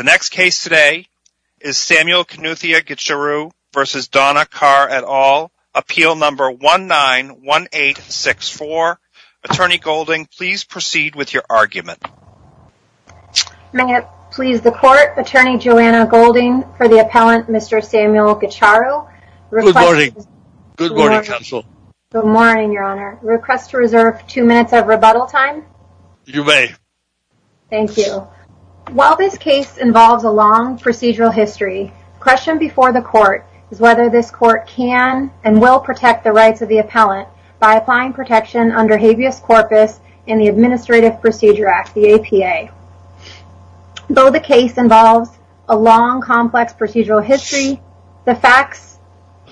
The next case today is Samuel Knuthia Gicharu v. Donna Carr et al. Appeal number 191864. Attorney Golding, please proceed with your argument. May it please the court, Attorney Joanna Golding for the appellant Mr. Samuel Gicharu. Good morning. Good morning, counsel. Good morning, your honor. Request to reserve two minutes of rebuttal time. You may. Thank you. While this case involves a long procedural history, question before the court is whether this court can and will protect the rights of the appellant by applying protection under habeas corpus in the Administrative Procedure Act, the APA. Though the case involves a long complex procedural history, the facts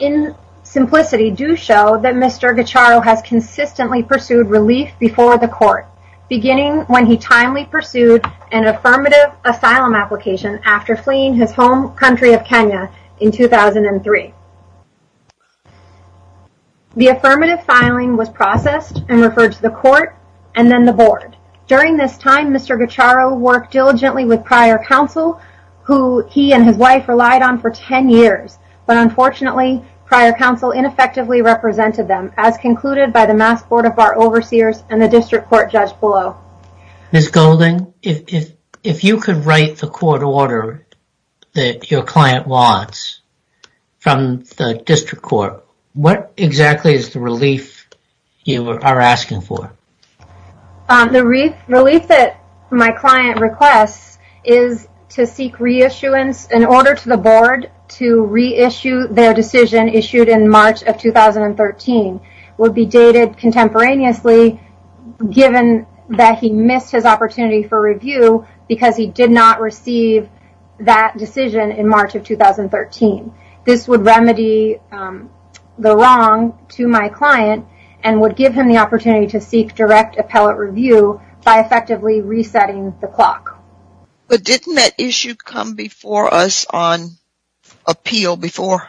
in simplicity do show that Mr. Gicharu has consistently pursued relief before the court, beginning when he timely pursued an affirmative asylum application after fleeing his home country of Kenya in 2003. The affirmative filing was processed and referred to the court and then the board. During this time, Mr. Gicharu worked diligently with prior counsel, who he and his wife relied on for 10 years, but unfortunately, prior counsel ineffectively represented them as concluded by the Mass Board of Bar Overseers and the District Court Judge Bullough. Ms. Golding, if you could write the court order that your client wants from the District Court, what exactly is the relief you are asking for? The relief that my client requests is to seek reissuance, an order to the board to reissue their decision issued in March of 2013, would be dated contemporaneously given that he missed his opportunity for review because he did not receive that decision in March of 2013. This would remedy the wrong to my client and would give him the opportunity to seek direct appellate review by effectively resetting the clock. But didn't that issue come before us on appeal before?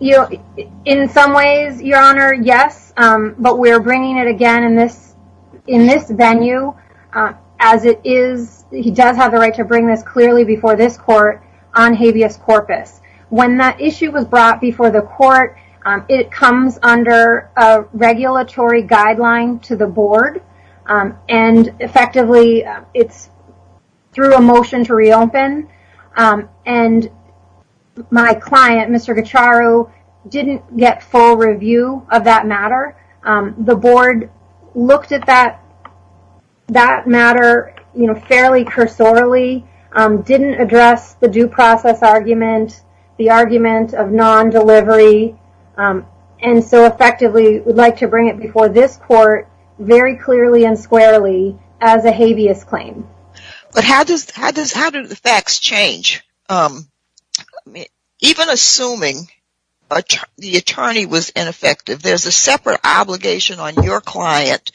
In some ways, your honor, yes, but we are bringing it again in this venue as it is, he does have the right to bring this clearly before this court on habeas corpus. When that issue was brought before the court, it comes under a regulatory guideline to the board, it is through a motion to reopen, and my client, Mr. Gucharu, did not get full review of that matter. The board looked at that matter fairly cursorily, did not address the due process argument, the argument of non-delivery, and so effectively would like to bring it before this court very soon for a habeas claim. But how do the facts change? Even assuming the attorney was ineffective, there is a separate obligation on your client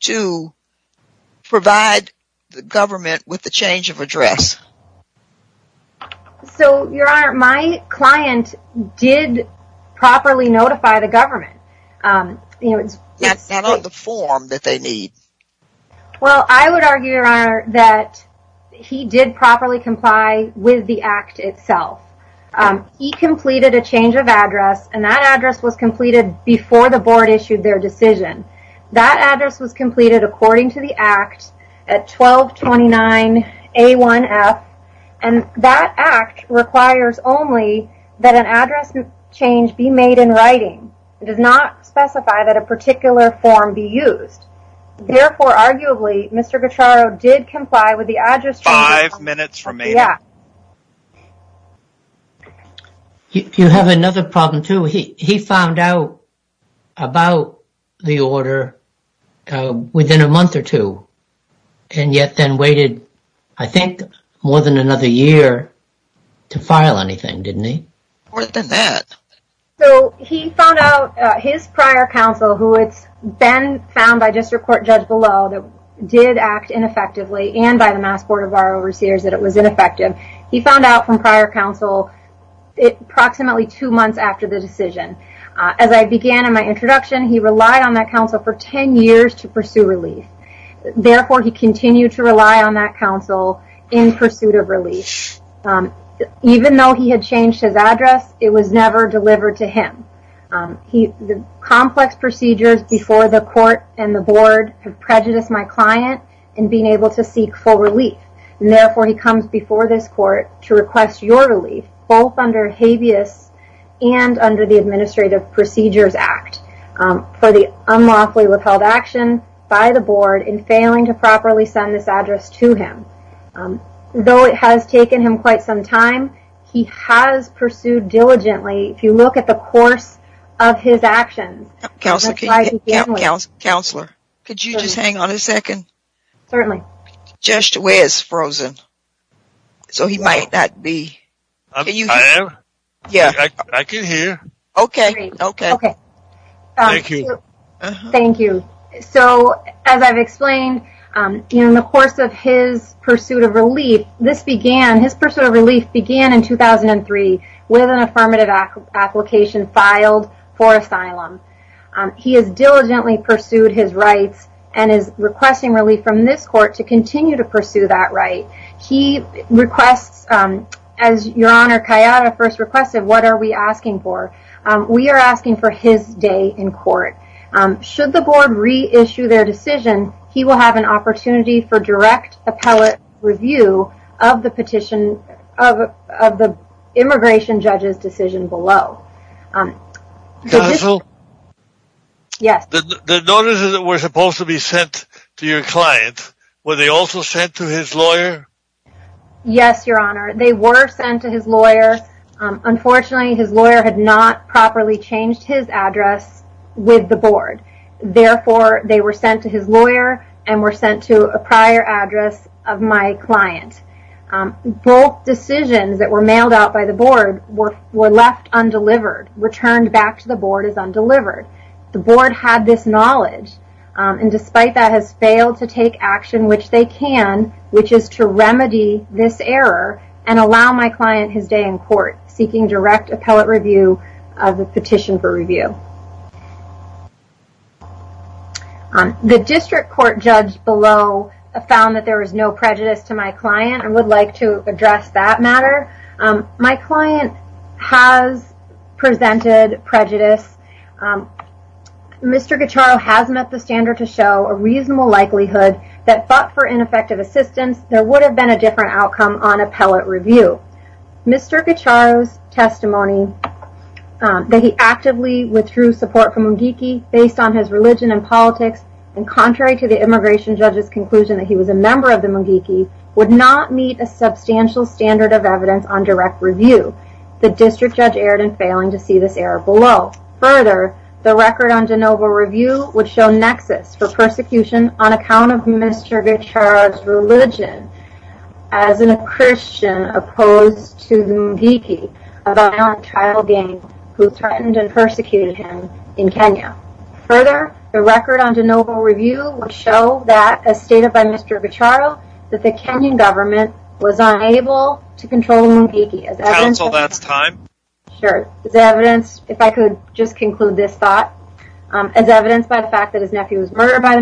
to provide the government with the change of address. So, your honor, my client did properly notify the government. Not on the form that they need. Well, I would argue, your honor, that he did properly comply with the act itself. He completed a change of address, and that address was completed before the board issued their decision. That address was completed according to the act at 1229A1F, and that act requires only that an address change be made in writing. It does not specify that a particular form be used. Therefore, arguably, Mr. Gucharu did comply with the address change. Five minutes remaining. Yeah. You have another problem, too. He found out about the order within a month or two, and yet then waited, I think, more than another year to file anything, didn't he? More than that. So, he found out, his prior counsel, who it's been found by District Court Judge Below that did act ineffectively, and by the Mass Board of Bar Overseers that it was ineffective. He found out from prior counsel approximately two months after the decision. As I began in my introduction, he relied on that counsel for 10 years to pursue relief. Therefore, he continued to rely on that counsel in pursuit of relief. Even though he had changed his address, it was never delivered to him. The complex procedures before the court and the board have prejudiced my client in being able to seek full relief. Therefore, he comes before this court to request your relief, both under habeas and under the Administrative Procedures Act, for the unlawfully withheld action by the board in failing to properly send this address to him. Though it has taken him quite some time, he has pursued diligently. If you look at the course of his actions, the slide begins with... Counselor, could you just hang on a second? Certainly. Judge DeWay is frozen, so he might not be. Can you hear? I am. Yeah. I can hear. Okay. Okay. Thank you. Thank you. As I've explained, in the course of his pursuit of relief, this began, his pursuit of relief began in 2003 with an affirmative application filed for asylum. He has diligently pursued his rights and is requesting relief from this court to continue to pursue that right. He requests, as Your Honor Kayada first requested, what are we asking for? We are asking for his day in court. Should the board reissue their decision, he will have an opportunity for direct appellate review of the petition, of the immigration judge's decision below. Counsel? Yes. The notices that were supposed to be sent to your client, were they also sent to his lawyer? Yes, Your Honor. They were sent to his lawyer. Unfortunately, his lawyer had not properly changed his address with the board. Therefore, they were sent to his lawyer and were sent to a prior address of my client. Both decisions that were mailed out by the board were left undelivered, returned back to the board as undelivered. The board had this knowledge and despite that, has failed to take action which they can, which is to remedy this error and allow my client his day in court, seeking direct appellate review of the petition for review. The district court judge below found that there was no prejudice to my client and would like to address that matter. My client has presented prejudice. Mr. Gacharo has met the standard to show a reasonable likelihood that fought for ineffective assistance. There would have been a different outcome on appellate review. Mr. Gacharo's testimony that he actively withdrew support for Mungiki based on his religion and politics and contrary to the immigration judge's conclusion that he was a member of the Mungiki, would not meet a substantial standard of evidence on direct review. The district judge erred in failing to see this error below. Further, the record on de novo review would show nexus for persecution on account of Mr. Gacharo's religion as a Christian opposed to the Mungiki, a violent child gang who threatened and persecuted him in Kenya. Further, the record on de novo review would show that, as stated by Mr. Gacharo, that the Kenyan government was unable to control Mungiki. Counsel, that's time. Sure. As evidenced, if I could just conclude this thought, as evidenced by the fact that his and attacked by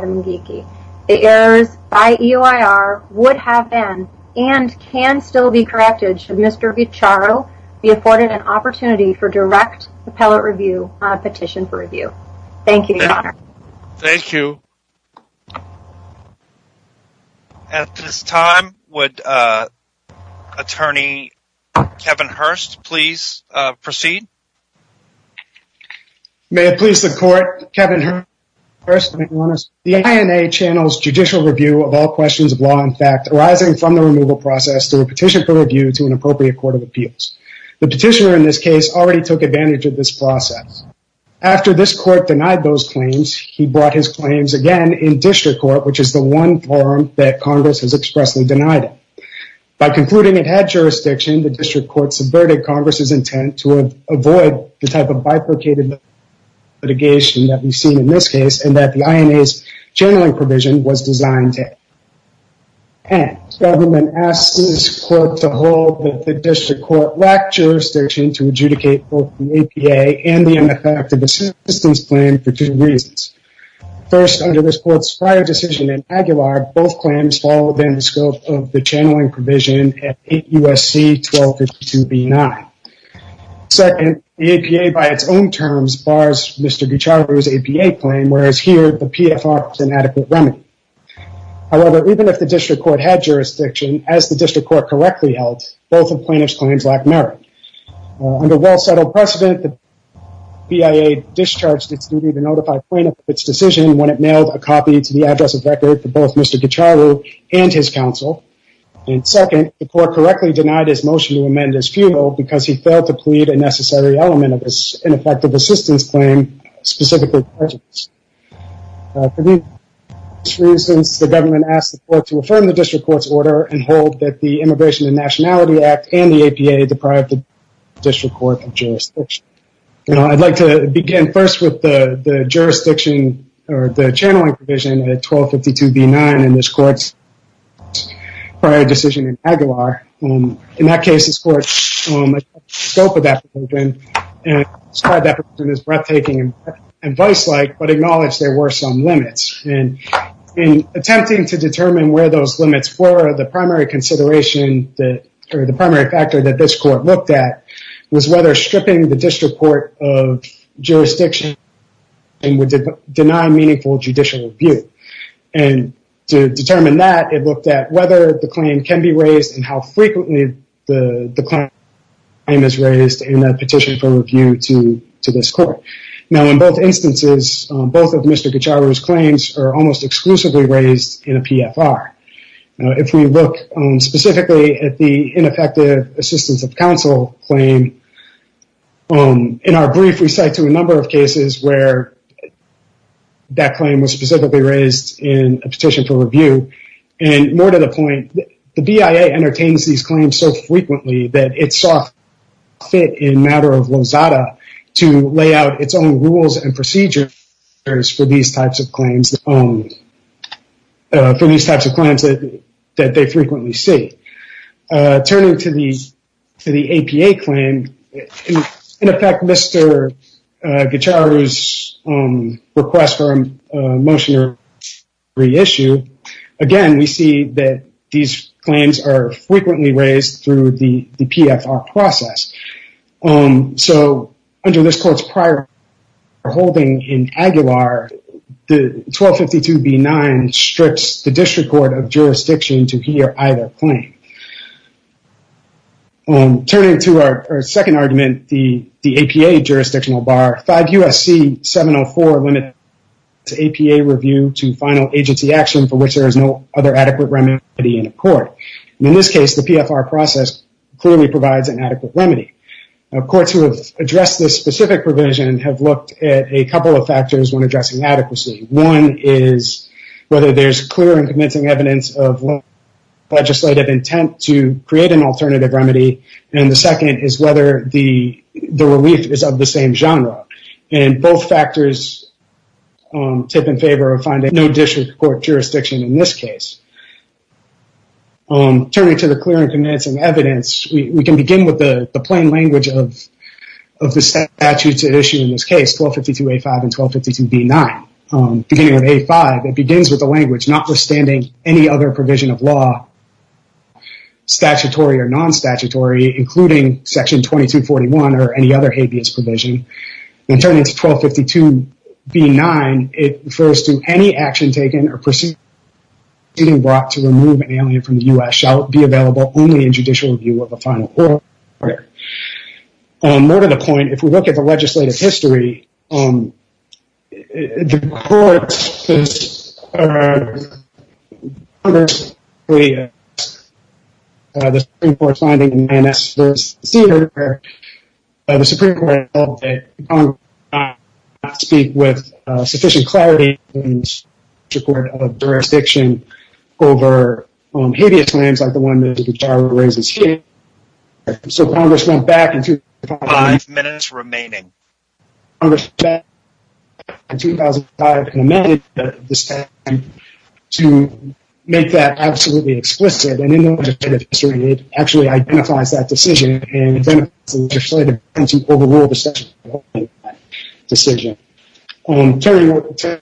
the Mungiki, the errors by EOIR would have been and can still be corrected should Mr. Gacharo be afforded an opportunity for direct appellate review on a petition for review. Thank you, Your Honor. Thank you. At this time, would Attorney Kevin Hurst please proceed? May it please the court, Kevin Hurst, the INA channels judicial review of all questions of law and fact arising from the removal process through a petition for review to an appropriate court of appeals. The petitioner in this case already took advantage of this process. After this court denied those claims, he brought his claims again in district court, which is the one forum that Congress has expressly denied it. By concluding it had jurisdiction, the district court subverted Congress's intent to avoid the type of bifurcated litigation that we've seen in this case and that the INA's channeling provision was designed to end. The government asked this court to hold that the district court lacked jurisdiction to adjudicate both the APA and the ineffective assistance plan for two reasons. First, under this court's prior decision in Aguilar, both claims fall within the scope of the channeling provision at 8 U.S.C. 1252 B-9. Second, the APA by its own terms bars Mr. Gicharu's APA claim, whereas here the PFR is an adequate remedy. However, even if the district court had jurisdiction, as the district court correctly held, both of plaintiff's claims lack merit. Under well-settled precedent, the BIA discharged its duty to notify plaintiff of its decision when it mailed a copy to the address of record for both Mr. Gicharu and his counsel. And second, the court correctly denied his motion to amend his feudal because he failed to plead a necessary element of this ineffective assistance claim, specifically prejudice. For these reasons, the government asked the court to affirm the district court's order and hold that the Immigration and Nationality Act and the APA deprived the district court of jurisdiction. Now, I'd like to begin first with the jurisdiction or the channeling provision at 1252 B-9 in this court's prior decision in Aguilar. In that case, this court's scope of that provision and described that provision as breathtaking and vice-like, but acknowledged there were some limits. And in attempting to determine where those limits were, the primary consideration or the primary factor that this court looked at was whether stripping the district court of jurisdiction would deny meaningful judicial review. And to determine that, it looked at whether the claim can be raised and how frequently the claim is raised in a petition for review to this court. Now, in both instances, both of Mr. Gicharu's claims are almost exclusively raised in a PFR. Now, if we look specifically at the ineffective assistance of counsel claim, in our brief, we cite to a number of cases where that claim was specifically raised in a petition for review. And more to the point, the BIA entertains these claims so frequently that it saw fit in matter of Lozada to lay out its own rules and procedures for these types of claims that they frequently see. Turning to the APA claim, in effect, Mr. Gicharu's request for a motion to re-issue, again, we see that these claims are frequently raised through the PFR process. So, under this court's prior holding in Aguilar, the 1252B9 strips the district court of jurisdiction to hear either claim. Turning to our second argument, the APA jurisdictional bar, 5 U.S.C. 704 limits APA review to final agency action for which there is no other adequate remedy in a court. In this case, the PFR process clearly provides an adequate remedy. Courts who have addressed this specific provision have looked at a couple of factors when addressing adequacy. One is whether there's clear and convincing evidence of legislative intent to create an alternative remedy, and the second is whether the relief is of the same genre. Both factors tip in favor of finding no district court jurisdiction in this case. Turning to the clear and convincing evidence, we can begin with the plain language of the statute to issue in this case, 1252A5 and 1252B9. Beginning with A5, it begins with the language, notwithstanding any other provision of law, statutory or non-statutory, including section 2241 or any other habeas provision. Then turning to 1252B9, it refers to any action taken or proceeding brought to remove an alien from the U.S. shall be available only in judicial review of a final order. More to the point, if we look at the legislative history, the Supreme Court's finding in the NSVC where the Supreme Court held that Congress did not speak with sufficient clarity in the legislative history, Congress went back in 2005 and amended the statute to make that absolutely explicit, and in the legislative history, it actually identifies that decision and identifies legislative intent to overrule the statute in that decision. Turning to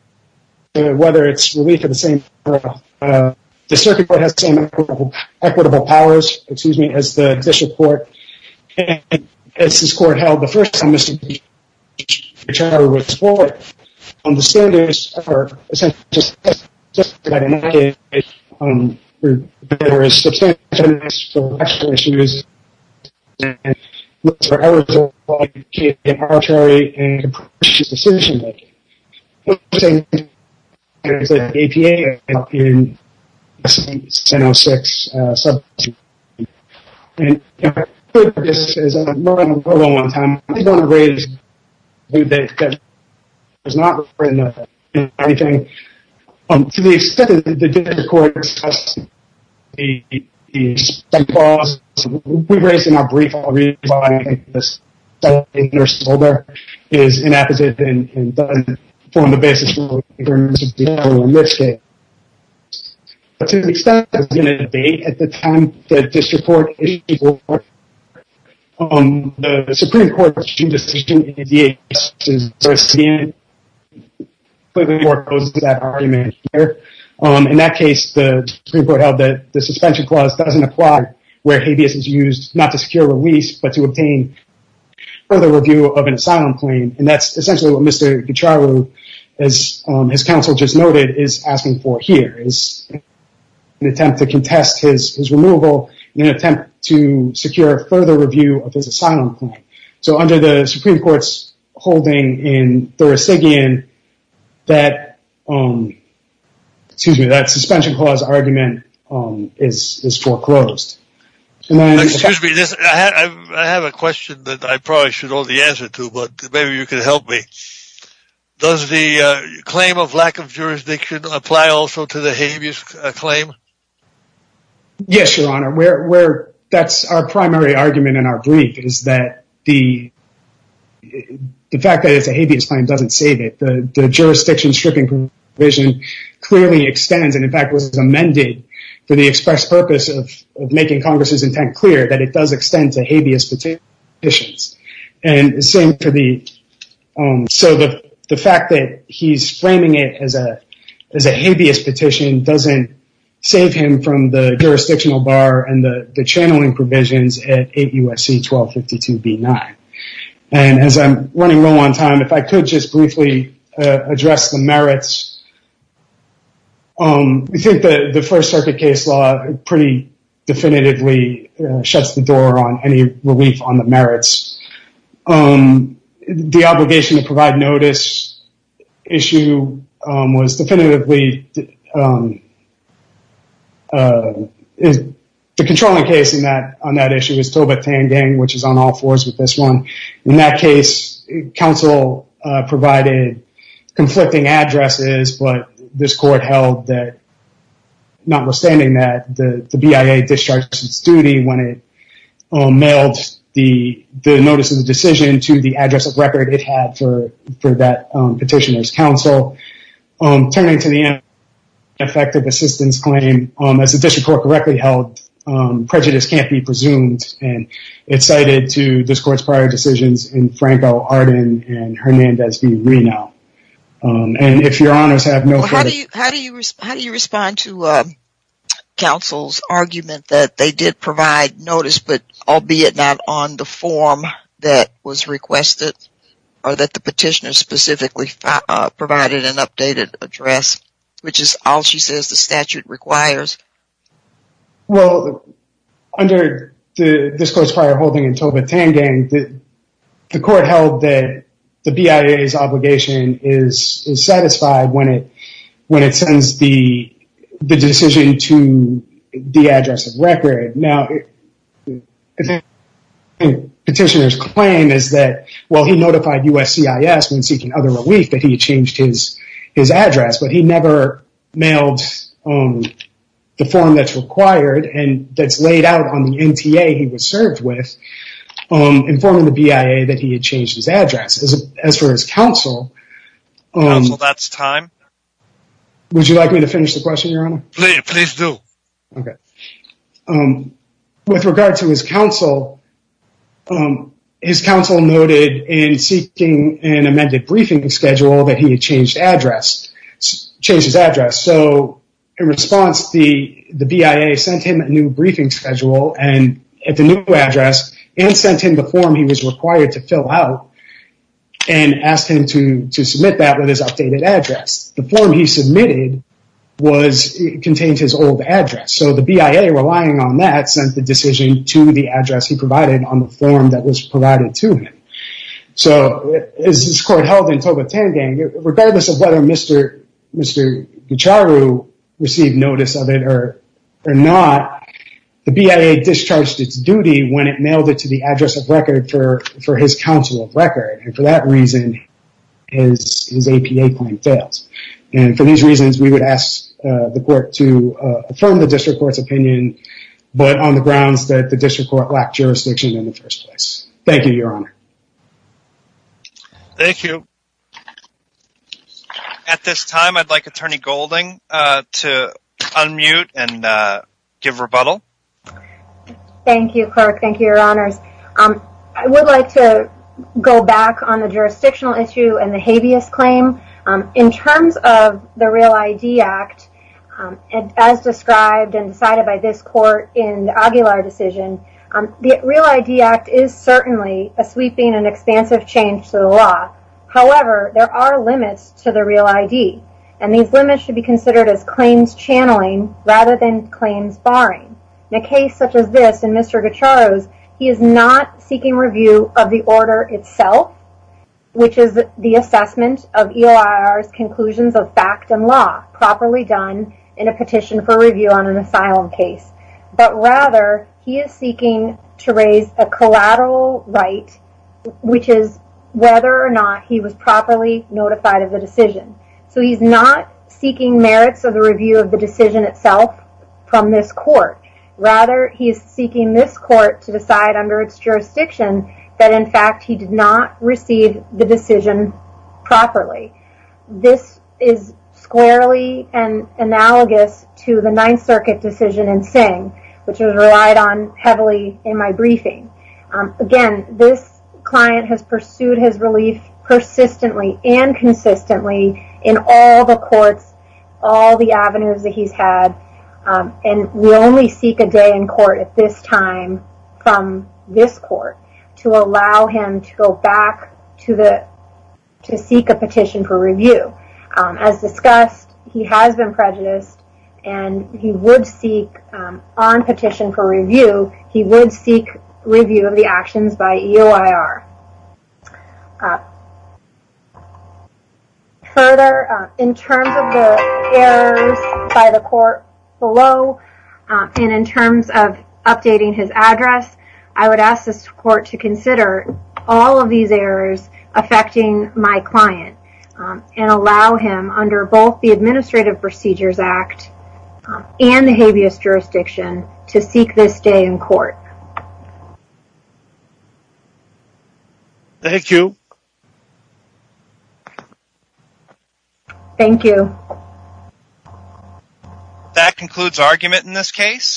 whether it's relief of the same genre, the circuit court has the same equitable powers, excuse me, as the judicial court, and as this court held the first time the Supreme Court returned to its board, the standards are essentially just to identify whether there is substantial misdirection issues, and whether there are errors in the arbitrary and capricious decision-making. We're saying there's an APA in SB 1006, and this is a long, long, long time. I just want to raise a few things, because I was not referring to anything. To the extent that the district court discussed the study process, we raised in our brief, I think this is inappropriate and doesn't form the basis for this case. But to the extent that there's been a debate at the time that district court issued the report, the Supreme Court's decision in the APA, in that case, the Supreme Court held that suspension clause doesn't apply where habeas is used, not to secure release, but to obtain further review of an asylum claim. And that's essentially what Mr. Gutiérrez, as his counsel just noted, is asking for here, is an attempt to contest his removal in an attempt to secure further review of his asylum claim. So under the Supreme Court's holding in Thurasigian, that suspension clause argument is foreclosed. I have a question that I probably should hold the answer to, but maybe you can help me. Does the claim of lack of jurisdiction apply also to the habeas claim? Yes, Your Honor. That's our primary argument in our brief, is that the fact that it's a habeas claim doesn't save it. The jurisdiction stripping provision clearly extends, and in fact, was amended for the express purpose of making Congress's intent clear that it does extend to habeas petitions. And the same for the... So the fact that he's framing it as a habeas petition doesn't save him from the jurisdictional bar and the channeling provisions at 8 U.S.C. 1252 B9. And as I'm running low on time, if I could just briefly address the merits. We think that the First Circuit case law pretty definitively shuts the door on any relief on the merits. The obligation to provide notice issue was definitively... The controlling case on that issue was Toba Tangeng, which is on all fours with this one. In that case, counsel provided conflicting addresses, but this court held that, notwithstanding that, the BIA discharged its duty when it mailed the notice of the decision to the address of record it had for that petitioner's counsel. Turning to the ineffective assistance claim, as the district court correctly held, prejudice can't be presumed, and it's cited to this court's prior decisions in Franco, Arden, and Hernandez v. Reno. And if your honors have no further... Well, how do you respond to counsel's argument that they did provide notice, but albeit not on the form that was requested, or that the petitioner specifically provided an updated address, which is all she says the statute requires? Well, under this court's prior holding in Toba Tangeng, the court held that the BIA's obligation is satisfied when it sends the decision to the address of record. Now, the petitioner's claim is that, well, he notified USCIS when seeking other relief that he had changed his address, but he never mailed the form that's required and that's laid out on the NTA he was served with, informing the BIA that he had changed his address. As for his counsel... Counsel, that's time. Would you like me to finish the question, your honor? Please do. Okay. With regard to his counsel, his counsel noted in seeking an amended briefing schedule that he had changed his address. So in response, the BIA sent him a new briefing schedule at the new address, and sent him the form he was required to fill out, and asked him to submit that with his updated address. The form he submitted contained his old address. So the BIA, relying on that, sent the decision to the address he provided on the form that was provided to him. So as this court held in Toba Tangeng, regardless of whether Mr. Gicharu received notice of it or not, the BIA discharged its duty when it mailed it to the address of record for his counsel of record. And for that reason, his APA claim fails. And for these reasons, we would ask the court to affirm the district court's opinion, but on the grounds that the district court lacked jurisdiction in the first place. Thank you, your honor. Thank you. At this time, I'd like Attorney Golding to unmute and give rebuttal. Thank you, Clark. Thank you, your honors. I would like to go back on the jurisdictional issue and the habeas claim. In terms of the Real ID Act, as described and decided by this court in the Aguilar decision, the Real ID Act is certainly a sweeping and expansive change to the law. However, there are limits to the Real ID. And these limits should be considered as claims channeling rather than claims barring. In a case such as this, in Mr. Gicharu's, he is not seeking review of the order itself, which is the assessment of EOIR's conclusions of fact and law properly done in a petition for review on an asylum case. But rather, he is seeking to raise a collateral right, which is whether or not he was properly notified of the decision. So he's not seeking merits of the review of the decision itself from this court. Rather, he is seeking this court to decide under its jurisdiction that, in fact, he did not receive the decision properly. This is squarely and analogous to the Ninth Circuit decision in Singh, which was relied on heavily in my briefing. Again, this client has pursued his relief persistently and consistently in all the courts, all the avenues that he's had. And we only seek a day in court at this time from this court. Allow him to go back to the to seek a petition for review. As discussed, he has been prejudiced and he would seek on petition for review. He would seek review of the actions by EOIR. Further, in terms of the errors by the court below and in terms of updating his address, I would ask this court to consider all of these errors affecting my client and allow him under both the Administrative Procedures Act and the habeas jurisdiction to seek this day in court. Thank you. Thank you. That concludes argument in this case.